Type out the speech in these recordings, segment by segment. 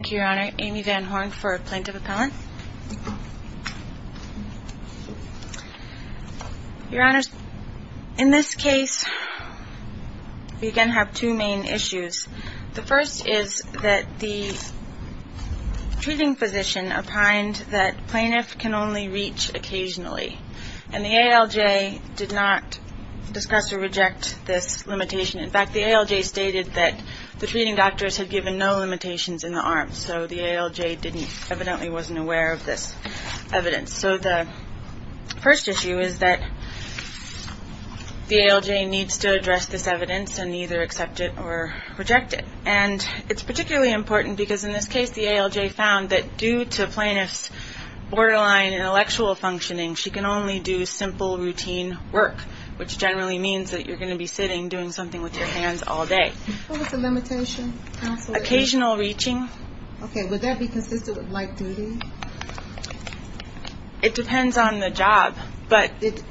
Thank you, Your Honor. Amy Van Horn for Plaintiff Appellant. Your Honors, in this case, we again have two main issues. The first is that the treating physician opined that plaintiff can only reach occasionally, and the ALJ did not discuss or reject this limitation. In fact, the ALJ stated that the treating doctors had given no limitations in the arms, so the ALJ evidently wasn't aware of this evidence. So the first issue is that the ALJ needs to address this evidence and either accept it or reject it. And it's particularly important because, in this case, the ALJ found that due to plaintiff's borderline intellectual functioning, she can only do simple routine work, which generally means that you're going to be sitting doing something with your hands all day. What was the limitation? Occasional reaching. Okay, would that be consistent with light duty? It depends on the job. Did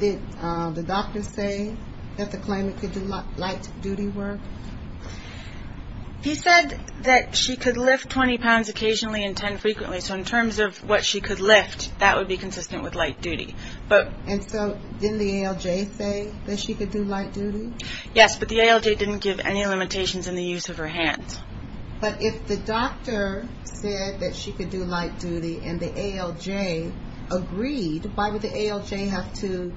the doctor say that the plaintiff could do light duty work? He said that she could lift 20 pounds occasionally and 10 frequently, so in terms of what she could lift, that would be consistent with light duty. And so didn't the ALJ say that she could do light duty? Yes, but the ALJ didn't give any limitations in the use of her hands. But if the doctor said that she could do light duty and the ALJ agreed, why would the ALJ have to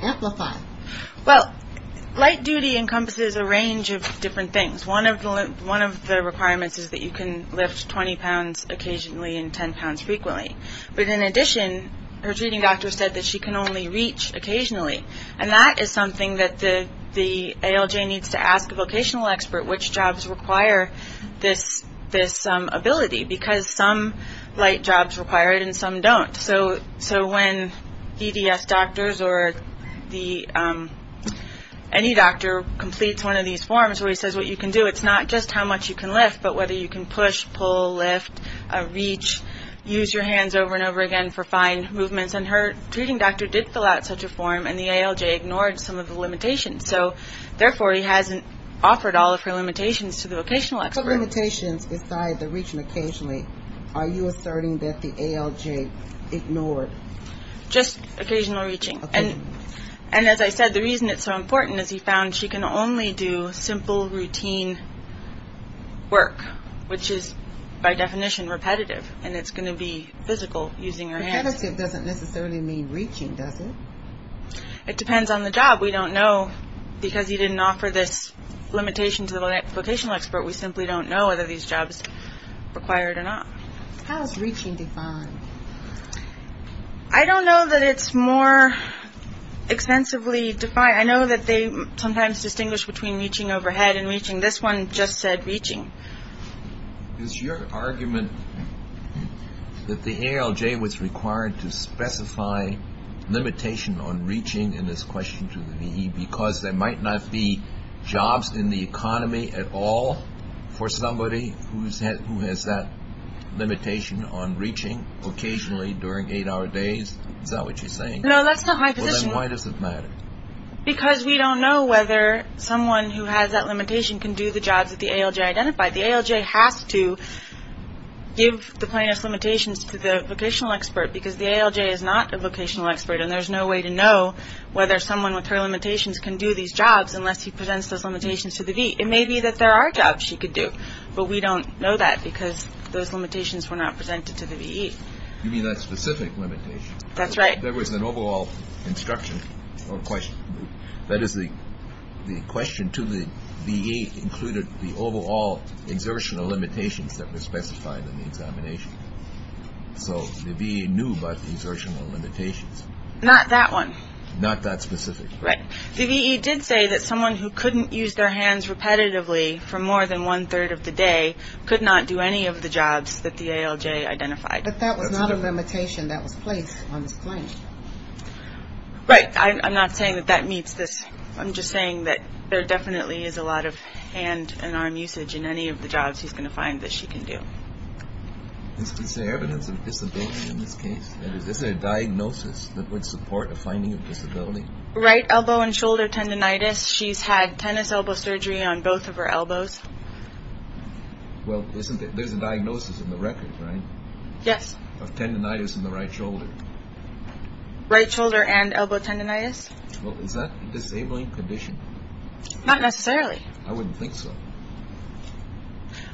amplify it? Well, light duty encompasses a range of different things. One of the requirements is that you can lift 20 pounds occasionally and 10 pounds frequently. But in addition, her treating doctor said that she can only reach occasionally, and that is something that the ALJ needs to ask a vocational expert, which jobs require this ability, because some light jobs require it and some don't. So when EDS doctors or any doctor completes one of these forms where he says what you can do, it's not just how much you can lift, but whether you can push, pull, lift, reach, use your hands over and over again for fine movements. And her treating doctor did fill out such a form, and the ALJ ignored some of the limitations. So, therefore, he hasn't offered all of her limitations to the vocational expert. What limitations besides the reaching occasionally are you asserting that the ALJ ignored? Just occasional reaching. And as I said, the reason it's so important is he found she can only do simple routine work, which is by definition repetitive, and it's going to be physical using her hands. Repetitive doesn't necessarily mean reaching, does it? It depends on the job. We don't know because he didn't offer this limitation to the vocational expert. We simply don't know whether these jobs require it or not. How is reaching defined? I don't know that it's more extensively defined. I know that they sometimes distinguish between reaching overhead and reaching. This one just said reaching. Is your argument that the ALJ was required to specify limitation on reaching in this question to the VE because there might not be jobs in the economy at all for somebody who has that limitation on reaching, occasionally during eight-hour days? Is that what you're saying? No, that's not my position. Well, then why does it matter? Because we don't know whether someone who has that limitation can do the jobs that the ALJ identified. The ALJ has to give the plaintiff's limitations to the vocational expert because the ALJ is not a vocational expert, and there's no way to know whether someone with her limitations can do these jobs unless he presents those limitations to the VE. It may be that there are jobs she could do, but we don't know that because those limitations were not presented to the VE. You mean that specific limitation? That's right. There was an overall instruction or question. That is, the question to the VE included the overall exertional limitations that were specified in the examination. So the VE knew about the exertional limitations. Not that one. Not that specific. Right. The VE did say that someone who couldn't use their hands repetitively for more than one-third of the day could not do any of the jobs that the ALJ identified. But that was not a limitation that was placed on this claim. Right. I'm not saying that that meets this. I'm just saying that there definitely is a lot of hand and arm usage in any of the jobs she's going to find that she can do. Is there evidence of disability in this case? Is there a diagnosis that would support a finding of disability? Right elbow and shoulder tendinitis. She's had tennis elbow surgery on both of her elbows. Well, there's a diagnosis in the record, right? Yes. Of tendinitis in the right shoulder. Right shoulder and elbow tendinitis. Well, is that a disabling condition? Not necessarily. I wouldn't think so.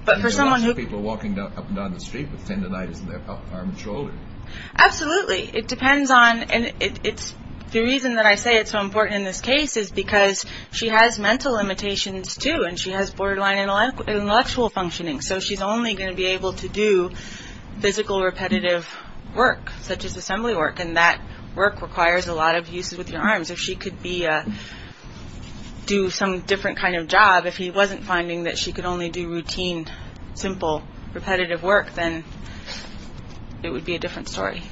But for someone who- You can watch people walking up and down the street with tendinitis in their arm and shoulder. Absolutely. It depends on- The reason that I say it's so important in this case is because she has mental limitations too and she has borderline intellectual functioning. So she's only going to be able to do physical repetitive work, such as assembly work, and that work requires a lot of uses with your arms. If she could do some different kind of job, if he wasn't finding that she could only do routine, simple, repetitive work, then it would be a different story.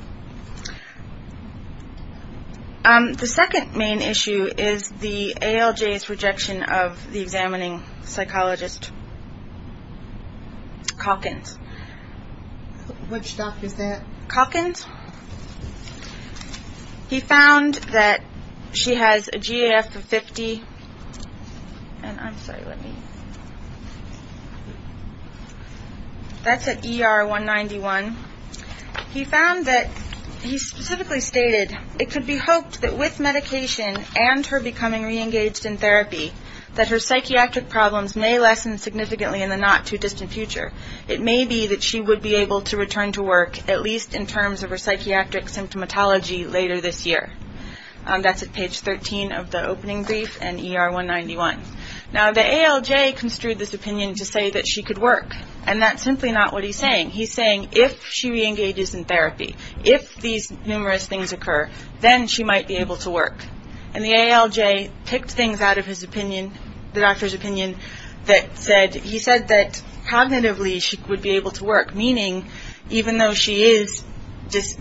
The second main issue is the ALJ's rejection of the examining psychologist, Calkins. Which doc is that? Calkins. He found that she has a GAF of 50. And I'm sorry, let me- That's at ER191. He found that- He specifically stated, it could be hoped that with medication and her becoming reengaged in therapy, that her psychiatric problems may lessen significantly in the not-too-distant future. It may be that she would be able to return to work, at least in terms of her psychiatric symptomatology later this year. That's at page 13 of the opening brief and ER191. Now, the ALJ construed this opinion to say that she could work, and that's simply not what he's saying. He's saying if she reengages in therapy, if these numerous things occur, then she might be able to work. And the ALJ picked things out of his opinion, the doctor's opinion, that he said that cognitively she would be able to work, meaning even though she does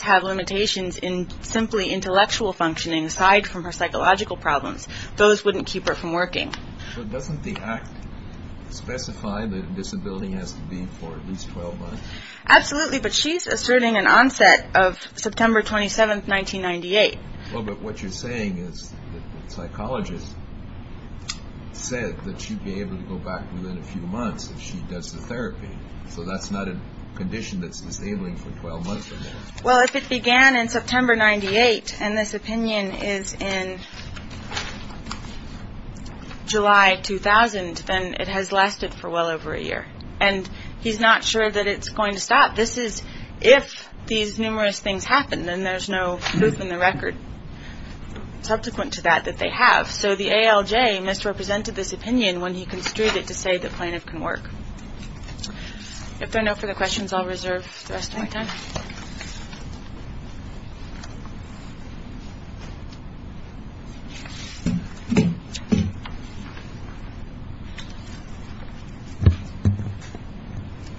have limitations in simply intellectual functioning, aside from her psychological problems, those wouldn't keep her from working. But doesn't the act specify that disability has to be for at least 12 months? Absolutely, but she's asserting an onset of September 27, 1998. Well, but what you're saying is the psychologist said that she'd be able to go back within a few months if she does the therapy. So that's not a condition that's disabling for 12 months or more. Well, if it began in September 1998 and this opinion is in July 2000, then it has lasted for well over a year. And he's not sure that it's going to stop. This is if these numerous things happen, then there's no proof in the record subsequent to that that they have. So the ALJ misrepresented this opinion when he construed it to say the plaintiff can work. If there are no further questions, I'll reserve the rest of my time.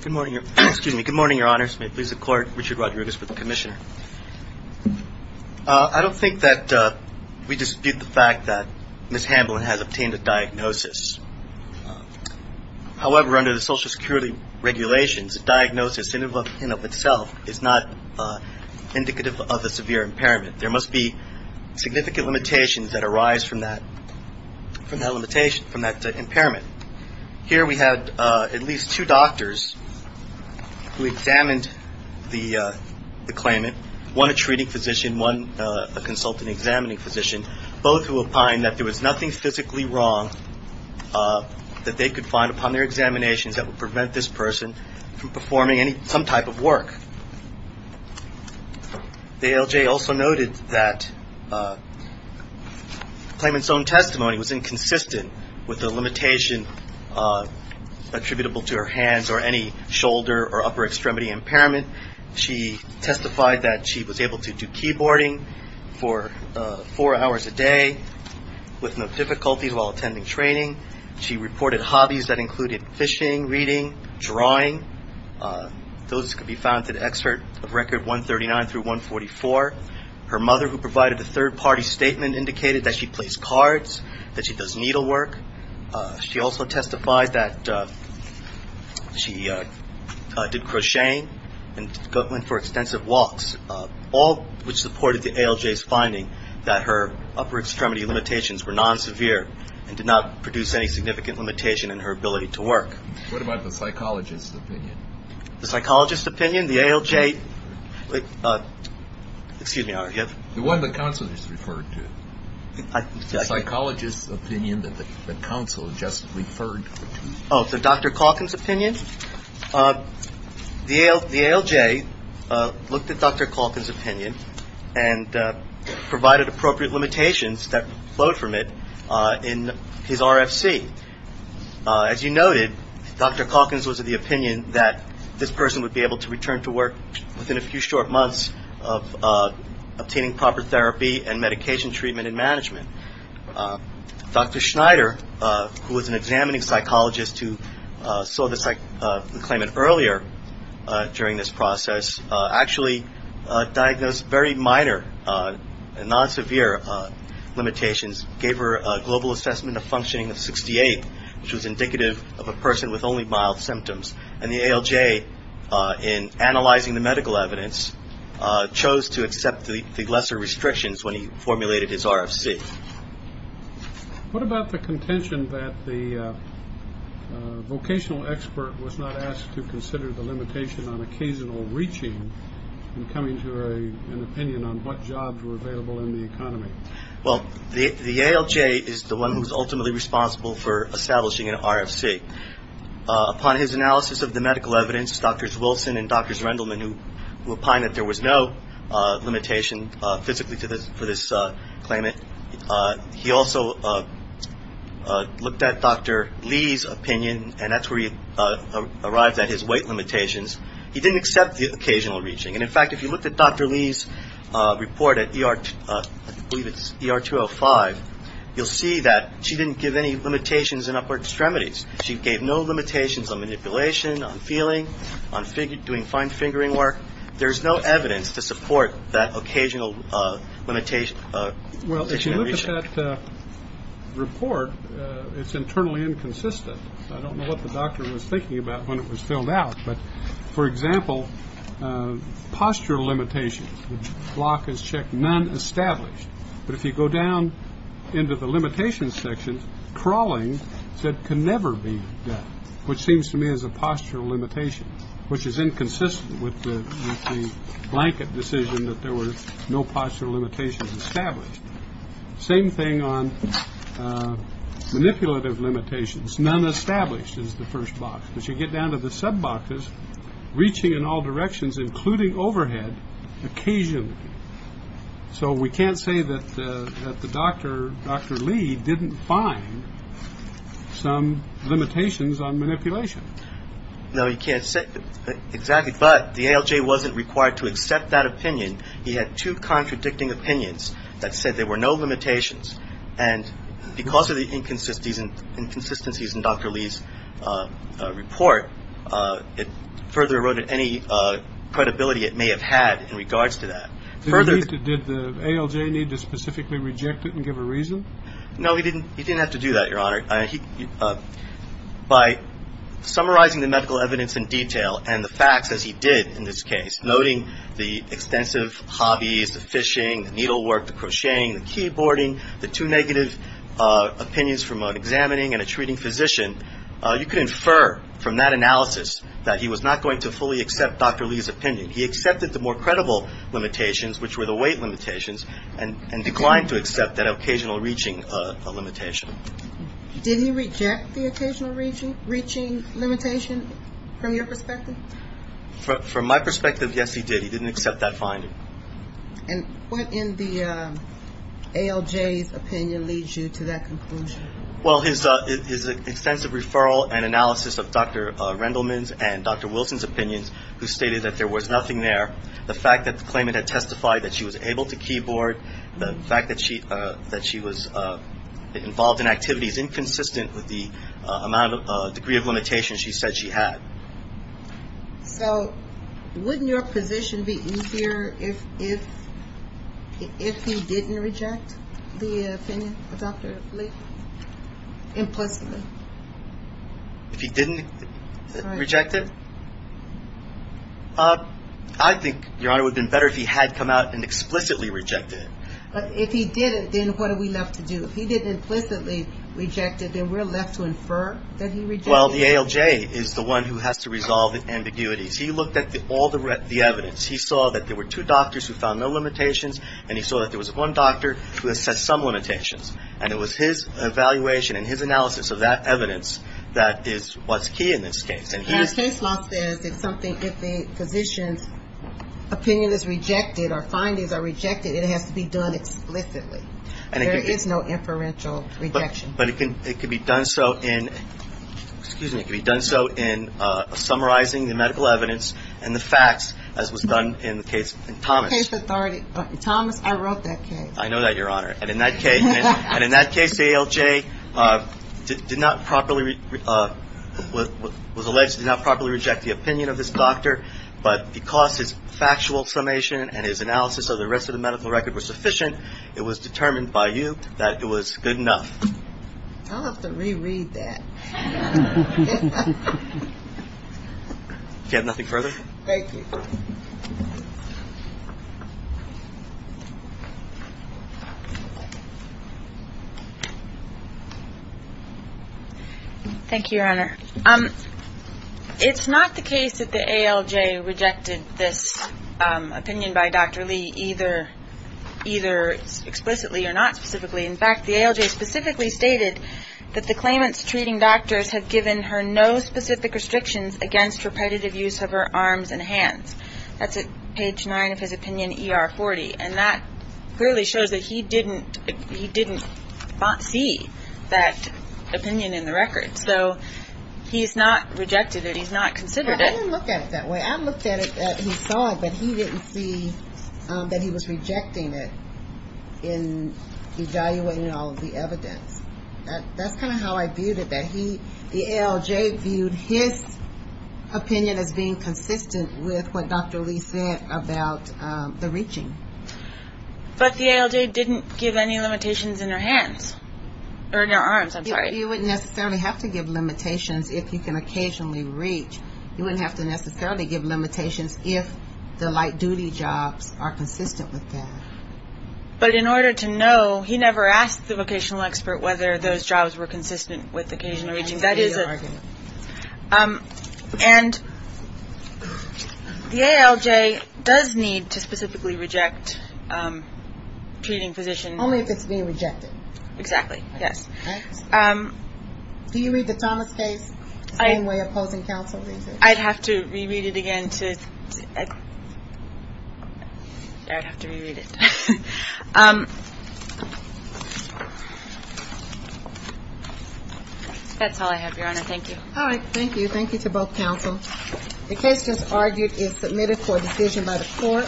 Good morning. Excuse me. Good morning, Your Honors. May it please the Court. Richard Rodriguez with the Commissioner. I don't think that we dispute the fact that Ms. Hamblin has obtained a diagnosis. However, under the Social Security regulations, a diagnosis in and of itself is not indicative of a severe impairment. There must be significant limitations that arise from that impairment. Here we had at least two doctors who examined the claimant, one a treating physician, one a consultant examining physician, both who opined that there was nothing physically wrong that they could find upon their examinations that would prevent this person from performing some type of work. The ALJ also noted that the claimant's own testimony was inconsistent with the limitation attributable to her hands or any shoulder or upper extremity impairment. She testified that she was able to do keyboarding for four hours a day with no difficulties while attending training. She reported hobbies that included fishing, reading, drawing. Those could be found in the excerpt of Record 139 through 144. Her mother, who provided a third-party statement, indicated that she plays cards, that she does needlework. She also testified that she did crocheting and went for extensive walks, all which supported the ALJ's finding that her upper extremity limitations were non-severe and did not produce any significant limitation in her ability to work. What about the psychologist's opinion? The psychologist's opinion? The ALJ? Excuse me. The one the counselor just referred to. The psychologist's opinion that the counselor just referred to. Oh, so Dr. Calkins' opinion? The ALJ looked at Dr. Calkins' opinion and provided appropriate limitations that flowed from it in his RFC. As you noted, Dr. Calkins was of the opinion that this person would be able to return to work within a few short months of obtaining proper therapy and medication treatment and management. Dr. Schneider, who was an examining psychologist who saw the claimant earlier during this process, actually diagnosed very minor and non-severe limitations, gave her a global assessment of functioning of 68, which was indicative of a person with only mild symptoms. And the ALJ, in analyzing the medical evidence, chose to accept the lesser restrictions when he formulated his RFC. What about the contention that the vocational expert was not asked to consider the limitation on occasional reaching and coming to an opinion on what jobs were available in the economy? Well, the ALJ is the one who is ultimately responsible for establishing an RFC. Upon his analysis of the medical evidence, Drs. Wilson and Drs. Rendleman, who opined that there was no limitation physically for this claimant, he also looked at Dr. Lee's opinion, and that's where he arrived at his weight limitations. He didn't accept the occasional reaching. And in fact, if you looked at Dr. Lee's report at ER, I believe it's ER 205, you'll see that she didn't give any limitations in upper extremities. She gave no limitations on manipulation, on feeling, on doing fine fingering work. There's no evidence to support that occasional limitation. Well, if you look at that report, it's internally inconsistent. I don't know what the doctor was thinking about when it was filled out. But, for example, postural limitations, the block is checked, none established. But if you go down into the limitations section, crawling can never be done, which seems to me is a postural limitation, which is inconsistent with the blanket decision that there were no postural limitations established. Same thing on manipulative limitations. None established is the first box. But you get down to the sub boxes, reaching in all directions, including overhead, occasionally. So we can't say that the doctor, Dr. Lee, didn't find some limitations on manipulation. No, you can't say exactly. But the ALJ wasn't required to accept that opinion. He had two contradicting opinions that said there were no limitations. And because of the inconsistencies in Dr. Lee's report, it further eroded any credibility it may have had in regards to that. Did the ALJ need to specifically reject it and give a reason? No, he didn't have to do that, Your Honor. By summarizing the medical evidence in detail and the facts, as he did in this case, noting the extensive hobbies, the fishing, the needlework, the crocheting, the keyboarding, the two negative opinions from an examining and a treating physician, you can infer from that analysis that he was not going to fully accept Dr. Lee's opinion. He accepted the more credible limitations, which were the weight limitations, and declined to accept that occasional reaching limitation. Did he reject the occasional reaching limitation from your perspective? From my perspective, yes, he did. He didn't accept that finding. And what in the ALJ's opinion leads you to that conclusion? Well, his extensive referral and analysis of Dr. Rendleman's and Dr. Wilson's opinions, who stated that there was nothing there. The fact that the claimant had testified that she was able to keyboard, the fact that she was involved in activities inconsistent with the degree of limitations she said she had. So wouldn't your position be easier if he didn't reject the opinion of Dr. Lee implicitly? If he didn't reject it? I think, Your Honor, it would have been better if he had come out and explicitly rejected it. But if he didn't, then what are we left to do? If he didn't implicitly reject it, then we're left to infer that he rejected it. Well, the ALJ is the one who has to resolve the ambiguities. He looked at all the evidence. He saw that there were two doctors who found no limitations, and he saw that there was one doctor who had some limitations. And it was his evaluation and his analysis of that evidence that is what's key in this case. And his case law says if something, if the physician's opinion is rejected or findings are rejected, it has to be done explicitly. There is no inferential rejection. But it can be done so in summarizing the medical evidence and the facts, as was done in the case of Thomas. In case authority. Thomas, I wrote that case. I know that, Your Honor. And in that case, the ALJ did not properly, was alleged to not properly reject the opinion of this doctor. But because his factual summation and his analysis of the rest of the medical record were sufficient, it was determined by you that it was good enough. I'll have to reread that. If you have nothing further. Thank you. Thank you, Your Honor. It's not the case that the ALJ rejected this opinion by Dr. Lee either explicitly or not specifically. In fact, the ALJ specifically stated that the claimants treating doctors have given her no specific restrictions against repetitive use of her arms and hands. That's at page 9 of his opinion ER40. And that clearly shows that he didn't see that opinion in the record. So he's not rejected it. He's not considered it. I didn't look at it that way. I looked at it as he saw it, but he didn't see that he was rejecting it in evaluating all of the evidence. That's kind of how I viewed it, that he, the ALJ, viewed his opinion as being consistent with what Dr. Lee said about the reaching. But the ALJ didn't give any limitations in her hands. Or in her arms, I'm sorry. You wouldn't necessarily have to give limitations if you can occasionally reach. You wouldn't have to necessarily give limitations if the light-duty jobs are consistent with that. But in order to know, he never asked the vocational expert whether those jobs were consistent with occasional reaching. That is a argument. And the ALJ does need to specifically reject treating physicians. Only if it's being rejected. Exactly. Yes. Do you read the Thomas case? Same way opposing counsel. I'd have to reread it again. I'd have to reread it. That's all I have, Your Honor. Thank you. All right. Thank you. Thank you to both counsel. The case just argued is submitted for decision by the court.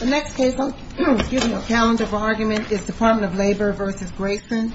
The next case I'm giving account of argument is Department of Labor v. Grayson. Thank you.